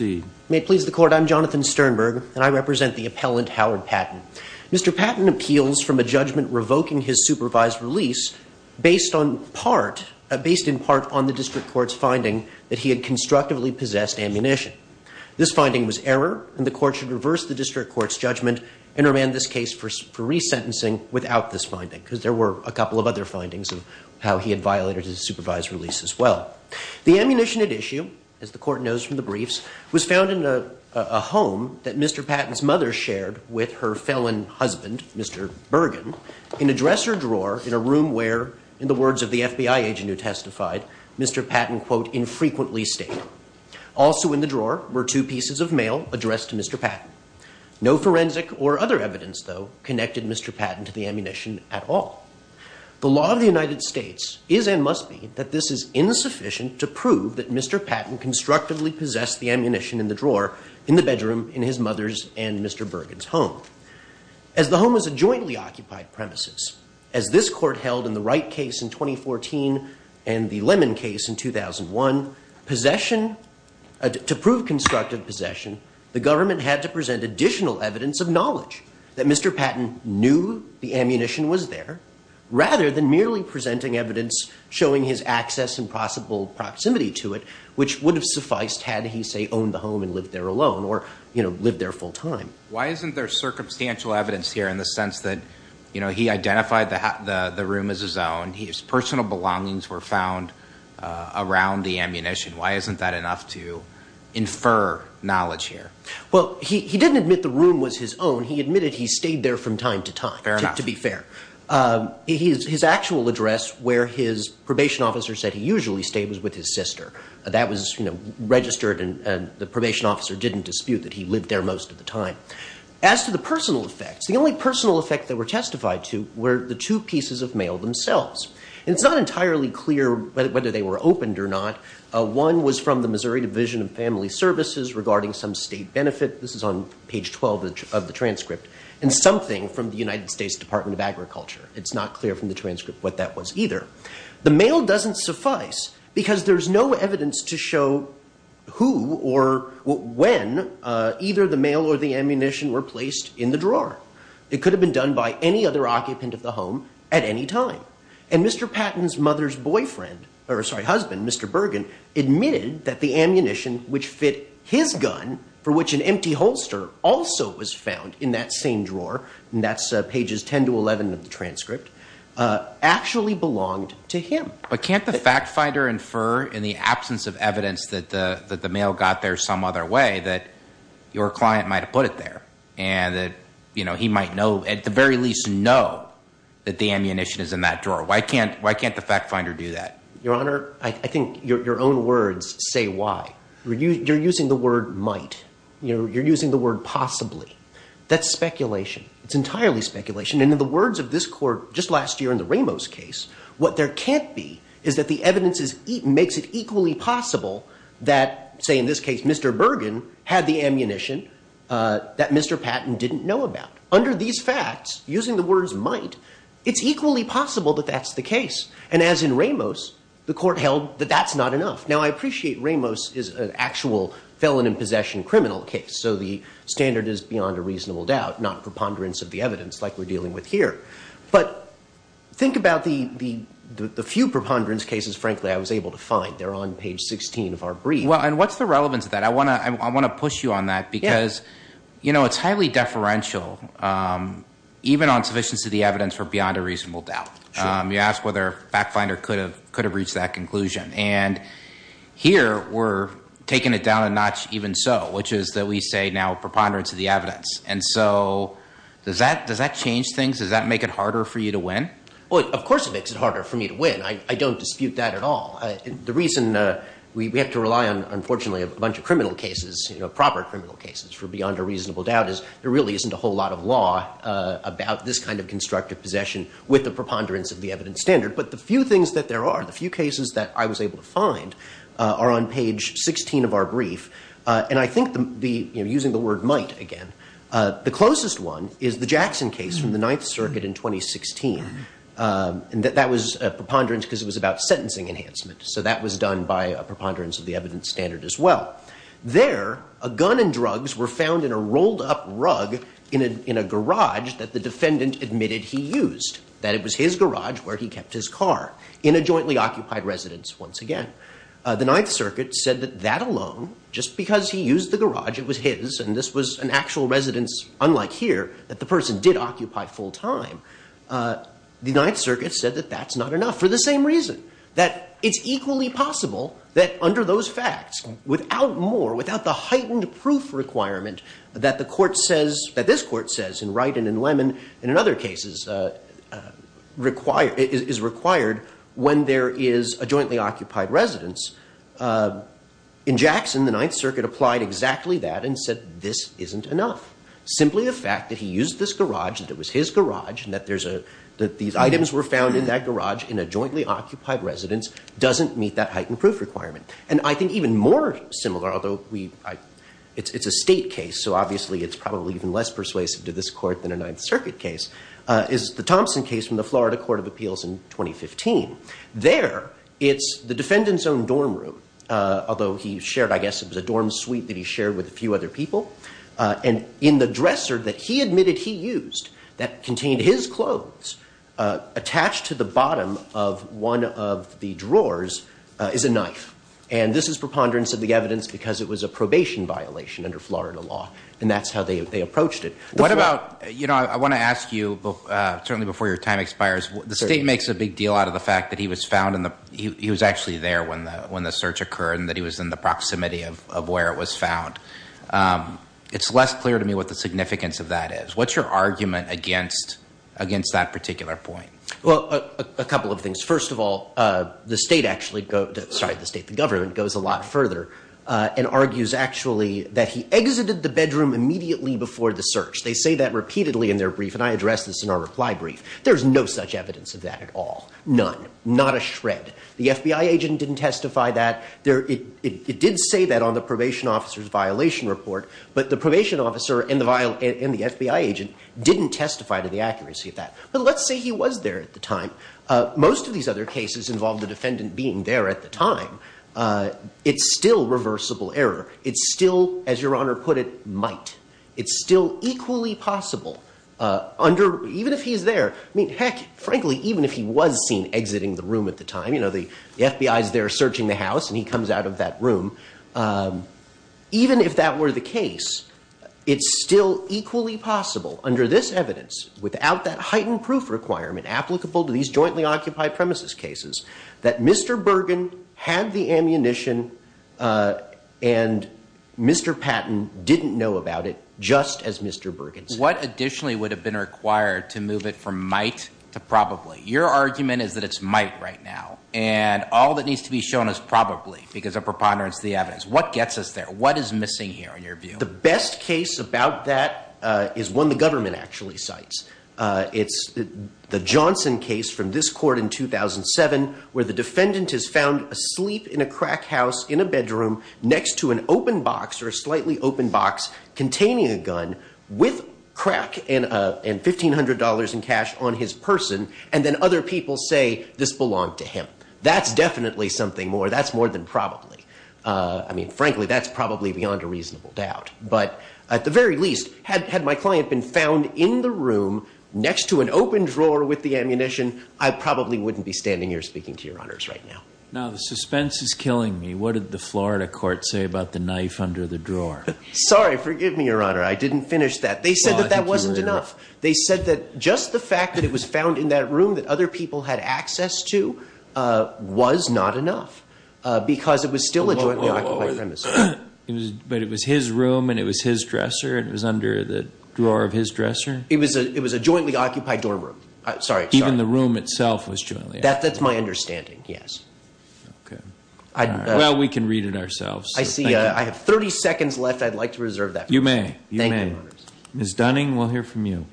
May it please the Court, I'm Jonathan Sternberg, and I represent the appellant Howard Patton. Mr. Patton appeals from a judgment revoking his supervised release based on part, based in part on the District Court's finding that he had constructively possessed ammunition. This finding was error and the Court should reverse the District Court's judgment and remand this case for resentencing without this finding, because there were a couple of other findings of how he had violated his supervised release as well. The ammunition at issue, as the Court knows from the briefs, was found in a home that Mr. Patton's mother shared with her felon husband, Mr. Bergen, in a dresser drawer in a room where, in the words of the FBI agent who testified, Mr. Patton quote, infrequently stayed. Also in the drawer were two pieces of mail addressed to Mr. Patton. No forensic or other evidence, though, connected Mr. Patton to the ammunition at all. The law of the United States is and must be that this is insufficient to prove that Mr. Patton constructively possessed the ammunition in the drawer in the bedroom in his mother's and Mr. Bergen's home. As the home was a jointly occupied premises, as this Court held in the Wright case in 2014 and the Lemon case in 2001, possession, to prove constructive possession, the government had to present additional evidence of knowledge that Mr. Patton knew the ammunition was there, rather than merely presenting evidence showing his access and possible proximity to it, which would have sufficed had he, say, owned the home and lived there alone or lived there full-time. Why isn't there circumstantial evidence here in the sense that he identified the room as his own, his personal belongings were found around the ammunition? Why isn't that enough to infer knowledge here? Well, he didn't admit the room was his own. He admitted he stayed there from time to time, to be fair. His actual address where his probation officer said he usually stayed was with his sister. That was registered and the probation officer didn't dispute that he lived there most of the time. As to the personal effects, the only personal effects that were testified to were the two pieces of mail themselves. It's not entirely clear whether they were opened or not. One was from the Missouri Division of Family Services regarding some state benefit. This is on page 12 of the transcript. And something from the United States Department of Agriculture. It's not clear from the transcript what that was either. The mail doesn't suffice because there's no evidence to show who or when either the mail or the ammunition were placed in the drawer. It could have been done by any other occupant of the home at any time. And Mr. Patton's mother's husband, Mr. Bergen, admitted that the ammunition which fit his gun, for which an empty holster also was found in that same drawer, and that's pages 10 to 11 of the transcript, actually belonged to him. But can't the fact finder infer in the absence of evidence that the mail got there some other way that your client might have put it there? And that he might know, at the very least know, that the ammunition is in that drawer. Why can't the fact finder do that? Your Honor, I think your own words say why. You're using the word might. You're using the word possibly. That's speculation. It's entirely speculation. And in the words of this Court just last year in the Ramos case, what there can't be is that the evidence makes it equally possible that, say in this case, Mr. Bergen had the ammunition that Mr. Patton didn't know about. Under these facts, using the words might, it's equally possible that that's the case. And as in Ramos, the Court held that that's not enough. Now, I appreciate Ramos is an actual felon in possession criminal case. So the standard is beyond a reasonable doubt, not preponderance of the evidence like we're dealing with here. But think about the few preponderance cases, frankly, I was able to find. They're on page 16 of our brief. And what's the relevance of that? I want to push you on that because it's highly deferential even on sufficiency of the evidence for beyond a reasonable doubt. You ask whether a fact finder could have reached that conclusion. And here we're taking it down a notch even so, which is that we say now preponderance of the evidence. And so does that change things? Does that make it harder for you to win? Well, of course it makes it harder for me to win. I don't dispute that at all. The reason we have to rely on, unfortunately, a bunch of criminal cases, proper criminal cases for beyond a reasonable doubt is there really isn't a whole lot of law about this kind of constructive possession with the preponderance of the evidence standard. But the few things that there aren't are on page 16 of our brief. And I think using the word might again, the closest one is the Jackson case from the Ninth Circuit in 2016. And that was preponderance because it was about sentencing enhancement. So that was done by a preponderance of the evidence standard as well. There, a gun and drugs were found in a rolled up rug in a garage that the defendant admitted he used, that it was his garage where he kept his car, in a garage. The Ninth Circuit said that that alone, just because he used the garage, it was his, and this was an actual residence unlike here, that the person did occupy full time. The Ninth Circuit said that that's not enough for the same reason, that it's equally possible that under those facts, without more, without the heightened proof requirement that the Court says, that this Court says in Wright and in Lemon and in other cases is required when there is a jointly occupied residence. In Jackson, the Ninth Circuit applied exactly that and said this isn't enough. Simply the fact that he used this garage, that it was his garage, and that there's a, that these items were found in that garage in a jointly occupied residence doesn't meet that heightened proof requirement. And I think even more similar, although it's a state case, so obviously it's probably even less persuasive to this Court than a Ninth Circuit case, is the Thompson case from the Florida Court of Appeals in 2015. There, it's the defendant's own dorm room, although he shared, I guess it was a dorm suite that he shared with a few other people, and in the dresser that he admitted he used, that contained his clothes, attached to the bottom of one of the drawers is a knife. And this is preponderance of the evidence because it was a probation violation under Florida law, and that's how they approached it. What about, you know, I want to ask you, certainly before your time expires, the state makes a big deal out of the fact that he was found in the, he was actually there when the search occurred and that he was in the proximity of where it was found. It's less clear to me what the significance of that is. What's your argument against that particular point? Well, a couple of things. First of all, the state actually, sorry, the state, the government, goes a lot further and argues actually that he exited the bedroom immediately before the search. They say that repeatedly in their reply brief. There's no such evidence of that at all. None. Not a shred. The FBI agent didn't testify that. It did say that on the probation officer's violation report, but the probation officer and the FBI agent didn't testify to the accuracy of that. But let's say he was there at the time. Most of these other cases involved the defendant being there at the time. It's still reversible error. It's still, as Your Honor put it, might. It's still equally possible under, even if he's there, I mean, heck, frankly, even if he was seen exiting the room at the time, you know, the FBI's there searching the house and he comes out of that room, even if that were the case, it's still equally possible under this evidence, without that heightened proof requirement applicable to these jointly occupied premises cases, that Mr. Bergen had the ammunition and Mr. Patton didn't know about it just as Mr. Bergen did. What additionally would have been required to move it from might to probably? Your argument is that it's might right now, and all that needs to be shown is probably, because of preponderance of the evidence. What gets us there? What is missing here, in your view? The best case about that is one the government actually cites. It's the Johnson case from this court in 2007, where the defendant is found asleep in a crack house in a bedroom next to an open box, or a gun, with crack and $1,500 in cash on his person, and then other people say this belonged to him. That's definitely something more, that's more than probably. I mean, frankly, that's probably beyond a reasonable doubt, but at the very least, had my client been found in the room next to an open drawer with the ammunition, I probably wouldn't be standing here speaking to your honors right now. Now the suspense is killing me. What did the Florida court say about the knife under the drawer? Sorry, forgive me, your honor. I didn't finish that. They said that that wasn't enough. They said that just the fact that it was found in that room that other people had access to was not enough, because it was still a jointly occupied premise. But it was his room, and it was his dresser, and it was under the drawer of his dresser? It was a jointly occupied dorm room. Sorry. Even the room itself was jointly occupied? That's my understanding, yes. Well, we can read it ourselves. I see. I have 30 seconds left. I'd like to reserve that. You may. Ms. Dunning, we'll hear from you.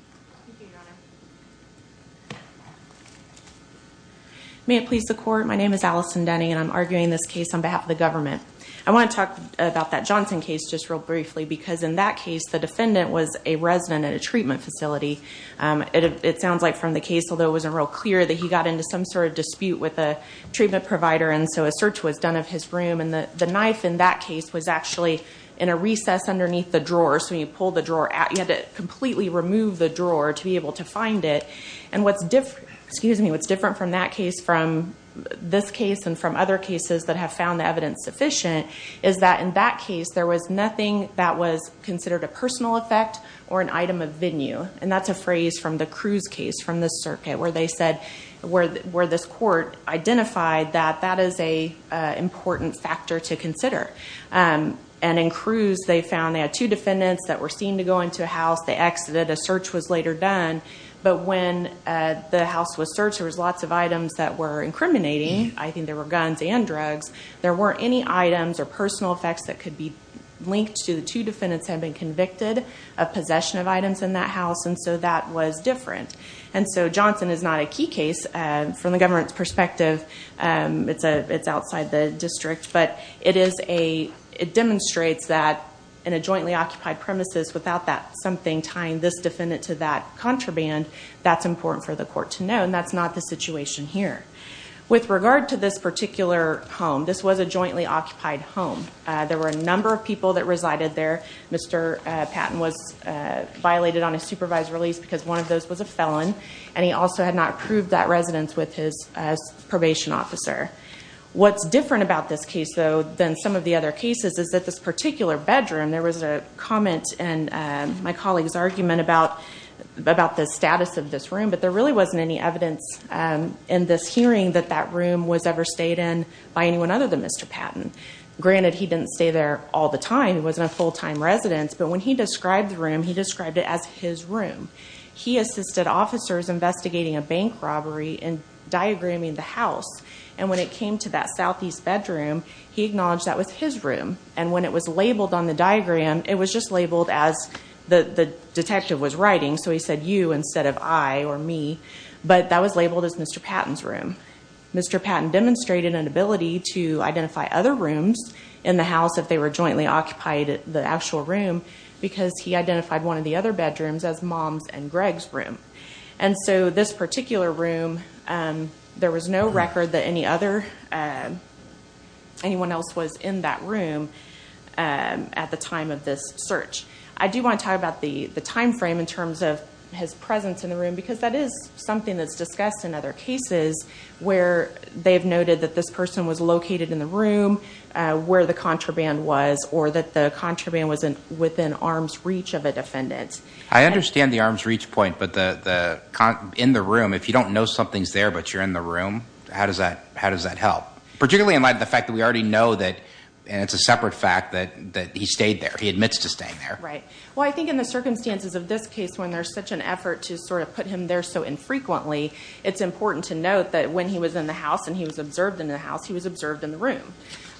May it please the court, my name is Allison Dunning, and I'm arguing this case on behalf of the government. I want to talk about that Johnson case just real briefly, because in that case, the defendant was a resident at a treatment facility. It sounds like from the case, although it wasn't real clear, that he got into some sort of dispute with a treatment provider, and so a search was in this room, and the knife in that case was actually in a recess underneath the drawer, so when you pulled the drawer out, you had to completely remove the drawer to be able to find it. And what's different from that case, from this case, and from other cases that have found the evidence sufficient, is that in that case, there was nothing that was considered a personal effect or an item of venue. And that's a phrase from the Cruz case from the circuit, where they said, where this court identified that, that is an important factor to consider. And in Cruz, they found they had two defendants that were seen to go into a house, they exited, a search was later done, but when the house was searched, there was lots of items that were incriminating. I think there were guns and drugs. There weren't any items or personal effects that could be linked to the two defendants having been convicted of possession of items in that house, and so that was different. And so Johnson is not a key case from the government's perspective. It's outside the district, but it demonstrates that in a jointly occupied premises, without that something tying this defendant to that contraband, that's important for the court to know, and that's not the situation here. With regard to this particular home, this was a jointly occupied home. There were a number of people that resided there. Mr. Patton was violated on a supervised release because one of those was a felon, and he also had not approved that residence with his probation officer. What's different about this case, though, than some of the other cases is that this particular bedroom, there was a comment in my colleague's argument about the status of this room, but there really wasn't any evidence in this hearing that that room was ever stayed in by anyone other than Mr. Patton. Granted, he didn't stay there all the time, he wasn't a full-time resident, but when he described the room, he described it as his officers investigating a bank robbery and diagramming the house, and when it came to that southeast bedroom, he acknowledged that was his room, and when it was labeled on the diagram, it was just labeled as the detective was writing, so he said you instead of I or me, but that was labeled as Mr. Patton's room. Mr. Patton demonstrated an ability to identify other rooms in the house if they were jointly occupied, the actual room, because he identified one of the other bedrooms as Mom's and Greg's room, and so this particular room, there was no record that any other anyone else was in that room at the time of this search. I do want to talk about the time frame in terms of his presence in the room, because that is something that's discussed in other cases where they've noted that this person was located in the room where the contraband was, or that the contraband was within arm's reach of a defendant. I understand the arm's reach point, but in the room, if you don't know something's there, but you're in the room, how does that help? Particularly in light of the fact that we already know that it's a separate fact that he stayed there. He admits to staying there. Right. Well, I think in the circumstances of this case, when there's such an effort to sort of put him there so infrequently, it's important to note that when he was in the house and he was observed in the house, he was observed in the room,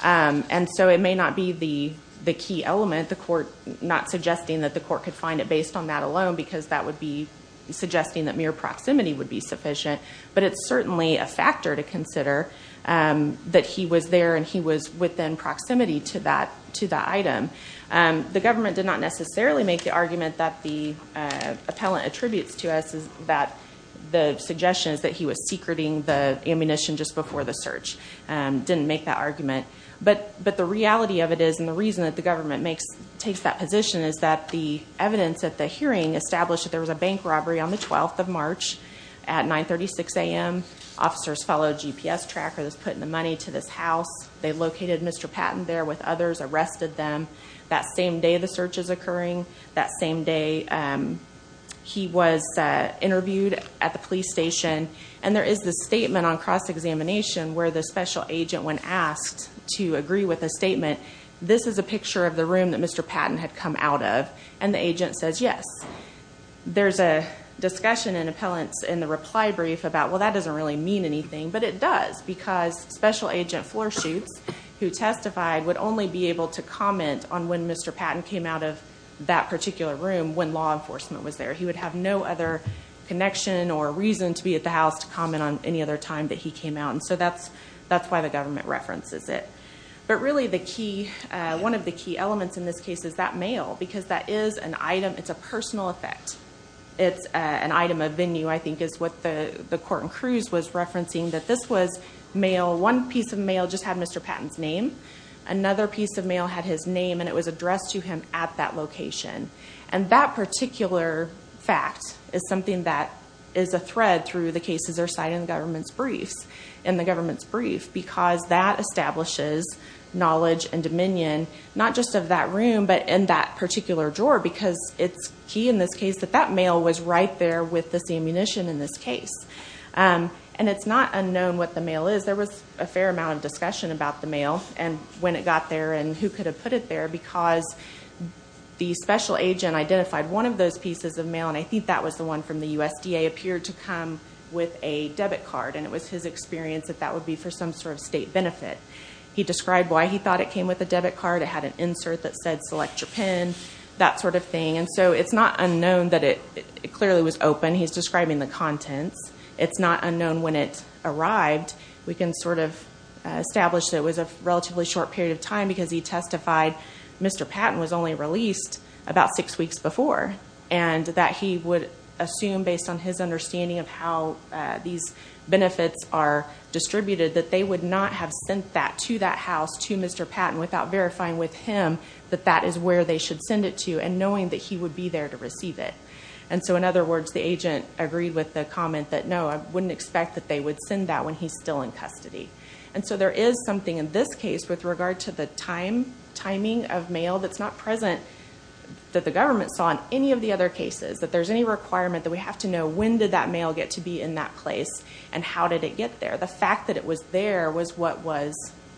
and so it may not be the key element, the court not suggesting that the court could find it based on that alone, because that would be suggesting that mere proximity would be sufficient, but it's certainly a factor to consider that he was there and he was within proximity to the item. The government did not necessarily make the argument that the appellant attributes to us that the suggestion is that he was secreting the ammunition just before the search. Didn't make that argument. But the reality of it is, and the reason that the government takes that position is that the evidence at the hearing established that there was a bank robbery on the 12th of March at 9.36 a.m. Officers followed a GPS tracker that was put in the money to this house. They located Mr. Patton there with others, arrested them that same day the search is occurring, that same day he was interviewed at the police station, and there is this statement on cross-examination where the special agent, when asked to agree with a statement, this is a picture of the room that Mr. Patton had come out of, and the agent says yes. There's a discussion in appellants in the reply brief about, well, that doesn't really mean anything, but it does, because special agent Floorshoots, who testified, would only be able to comment on when Mr. Patton came out of that particular room when law enforcement was there. He would have no other connection or reason to be at the house to comment on any other time that he came out, and so that's why the government references it. But really, one of the key elements in this case is that mail, because that is an item, it's a personal effect. It's an item of venue, I think, is what the court in Cruz was referencing, that this was mail, one piece of mail just had Mr. Patton's name. Another piece of mail had his name, and it was addressed to him at that location. And that particular fact is something that is a thread through the cases that are cited in the government's briefs, because that establishes knowledge and dominion not just of that room, but in that particular drawer, because it's key in this case that that mail was right there with this ammunition in this case. And it's not unknown what the mail is. There was a fair amount of discussion about the mail and when it got there and who could have put it there, because the special agent identified one of those pieces of mail, and it appeared to come with a debit card, and it was his experience that that would be for some sort of state benefit. He described why he thought it came with a debit card. It had an insert that said, select your pin, that sort of thing. It's not unknown that it clearly was open. He's describing the contents. It's not unknown when it arrived. We can establish that it was a relatively short period of time, because he testified Mr. Patton was only released about six weeks before, and that he would assume, based on his understanding of how these benefits are distributed, that they would not have sent that to that house to Mr. Patton without verifying with him that that is where they should send it to, and knowing that he would be there to receive it. And so in other words, the agent agreed with the comment that, no, I wouldn't expect that they would send that when he's still in custody. And so there is something in this case with regard to the timing of mail that's not present that the government saw in any of the other cases, that there's any requirement that we have to know when did that mail get to be in that place, and how did it get there. The fact that it was there was what was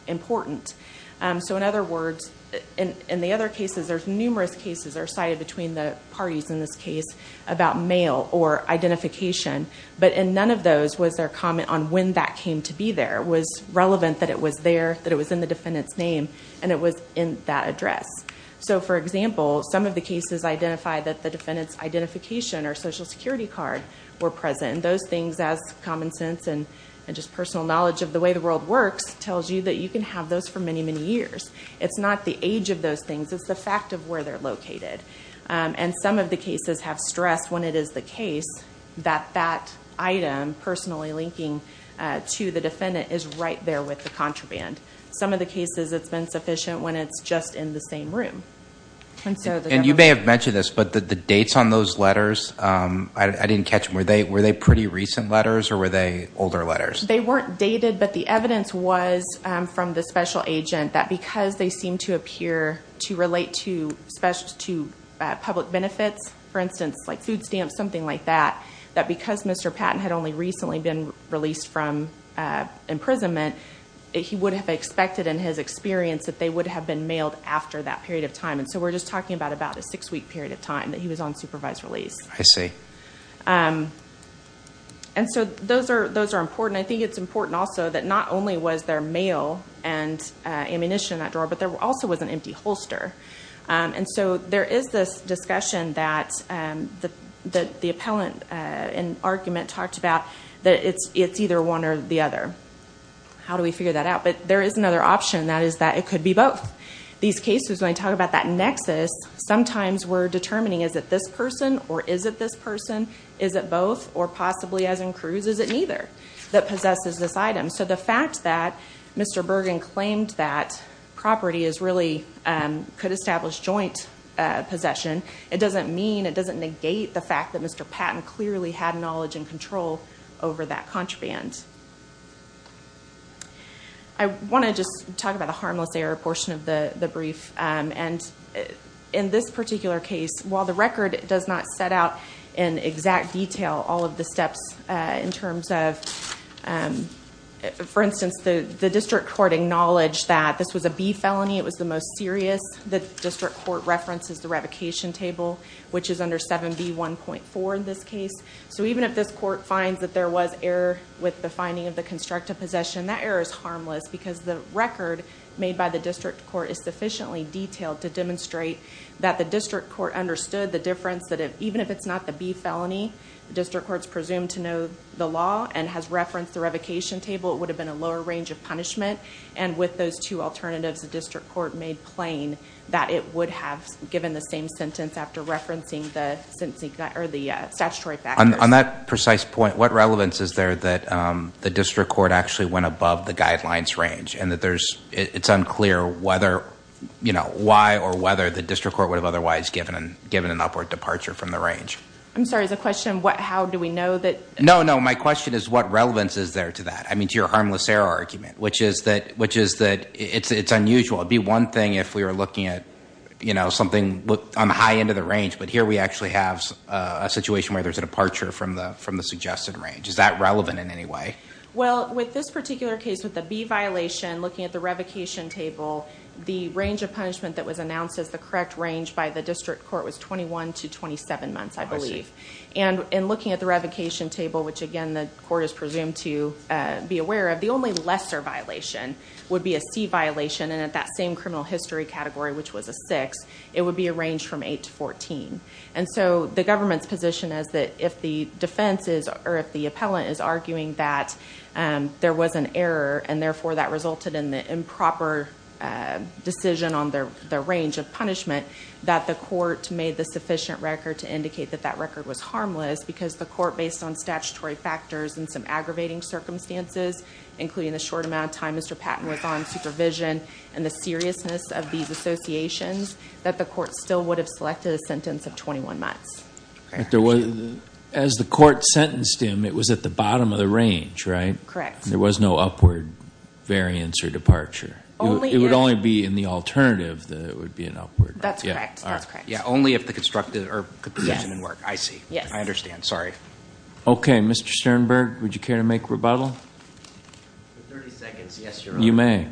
important. So in other words, in the other cases, there's numerous cases that are cited between the parties in this case about mail or identification, but in none of those was there comment on when that came to be there. It was relevant that it was there, that it was in the defendant's name, and it was in that address. So for example, some of the cases identify that the defendant's identification or Social Security card were present. And those things, as common sense and just personal knowledge of the way the world works, tells you that you can have those for many, many years. It's not the age of those things, it's the fact of where they're located. And some of the cases have stressed when it is the case that that item, personally linking to the defendant, is right there with the contraband. Some of the cases, it's been sufficient when it's just in the same room. And you may have mentioned this, but the dates on those letters, I didn't catch them. Were they pretty recent letters, or were they older letters? They weren't dated, but the evidence was from the special agent that because they seemed to appear to relate to public benefits, for instance, like food stamps, something like that, that because Mr. Patton had only recently been released from prison, it was expected in his experience that they would have been mailed after that period of time. And so we're just talking about a six-week period of time that he was on supervised release. I see. And so those are important. I think it's important also that not only was there mail and ammunition in that drawer, but there also was an empty holster. And so there is this discussion that the appellant in argument talked about that it's either one or the other. How do we figure that out? But there is another option, and that is that it could be both. These cases, when I talk about that nexus, sometimes we're determining is it this person, or is it this person, is it both, or possibly as in Cruz, is it neither that possesses this item? So the fact that Mr. Bergen claimed that property is really could establish joint possession, it doesn't mean, it doesn't negate the fact that Mr. Patton clearly had knowledge and control over that contraband. I want to just talk about the harmless error portion of the brief. In this particular case, while the record does not set out in exact detail all of the steps in terms of for instance, the district court acknowledged that this was a B felony. It was the most serious. The district court references the revocation table, which is under 7B1.4 in this case. So even if this court finds that there was error with the finding of the constructive possession, that error is harmless because the record made by the district court is sufficiently detailed to demonstrate that the district court understood the difference that even if it's not the B felony, the district court is presumed to know the law and has referenced the revocation table. It would have been a lower range of punishment, and with those two alternatives, the district court made plain that it would have given the same sentence after referencing the statutory factors. On that precise point, what relevance is there that the district court actually went above the guidelines range and that it's unclear whether, you know, why or whether the district court would have otherwise given an upward departure from the range? I'm sorry, is the question how do we know that? No, no, my question is what relevance is there to that? I mean to your harmless error argument, which is that it's unusual. It would be one thing if we were looking at, you know, something on the high end of the range, but here we actually have a situation where there's a departure from the suggested range. Is that relevant in any way? Well, with this particular case, with the B violation, looking at the revocation table, the range of punishment that was announced as the correct range by the district court was 21 to 27 months, I believe. And in looking at the revocation table, which again the court is presumed to be aware of, the only lesser violation would be a C violation, and at that same criminal history category, which was a 6, it would be a range from 8 to 14. And so the government's position is that if the defense is, or if the appellant is arguing that there was an error, and therefore that resulted in the improper decision on the range of punishment, that the court made the sufficient record to indicate that that record was harmless, because the court, based on statutory factors and some aggravating circumstances, including the short amount of time Mr. Patton was on supervision and the seriousness of these associations, that the court still would have selected a sentence of 21 months. As the court sentenced him, it was at the bottom of the range, right? Correct. There was no upward variance or departure. It would only be in the alternative that it would be an upward. That's correct. Yeah, only if the construction didn't work. I see. I understand. Sorry. Okay, Mr. Sternberg, would you care to make rebuttal? For 30 seconds, yes, Your Honor. You may.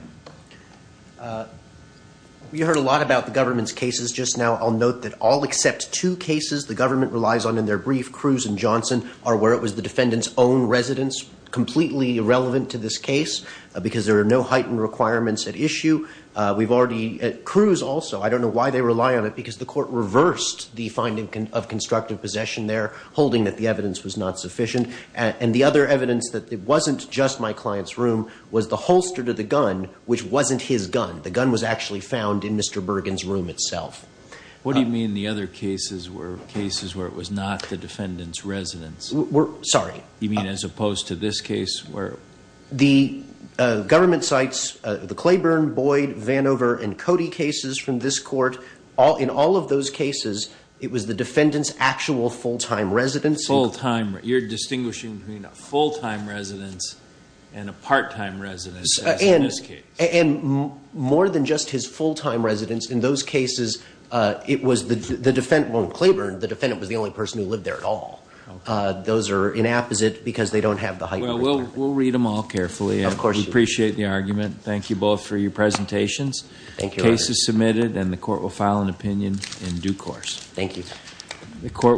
We heard a lot about the government's cases just now. I'll note that all except two cases the government relies on in their brief, Cruz and Johnson, are where it was the defendant's own residence, completely irrelevant to this case, because there are no heightened requirements at issue. We've already, Cruz also, I don't know why they rely on it, because the court reversed the finding of constructive possession there, holding that the evidence was not sufficient. And the other evidence that it wasn't just my client's room was the holster to the gun, which wasn't his gun. The gun was actually found in Mr. Bergen's room itself. What do you mean the other cases were cases where it was not the defendant's residence? Sorry. You mean as opposed to this case? The government cites the Claiborne, Boyd, Vanover, and Cody cases from this court. In all of those cases, it was the defendant's actual full-time residence. You're distinguishing between a full-time residence and a part-time residence as in this case. And more than just his full-time residence, in those cases it was the defendant, well in Claiborne, the defendant was the only person who lived there at all. Those are inapposite because they don't have the heightened requirements. Well, we'll read them all carefully. Of course you will. We appreciate the argument. Thank you both for your presentations. Thank you, Your Honor. The case is submitted and the court will file an opinion in due course. Thank you.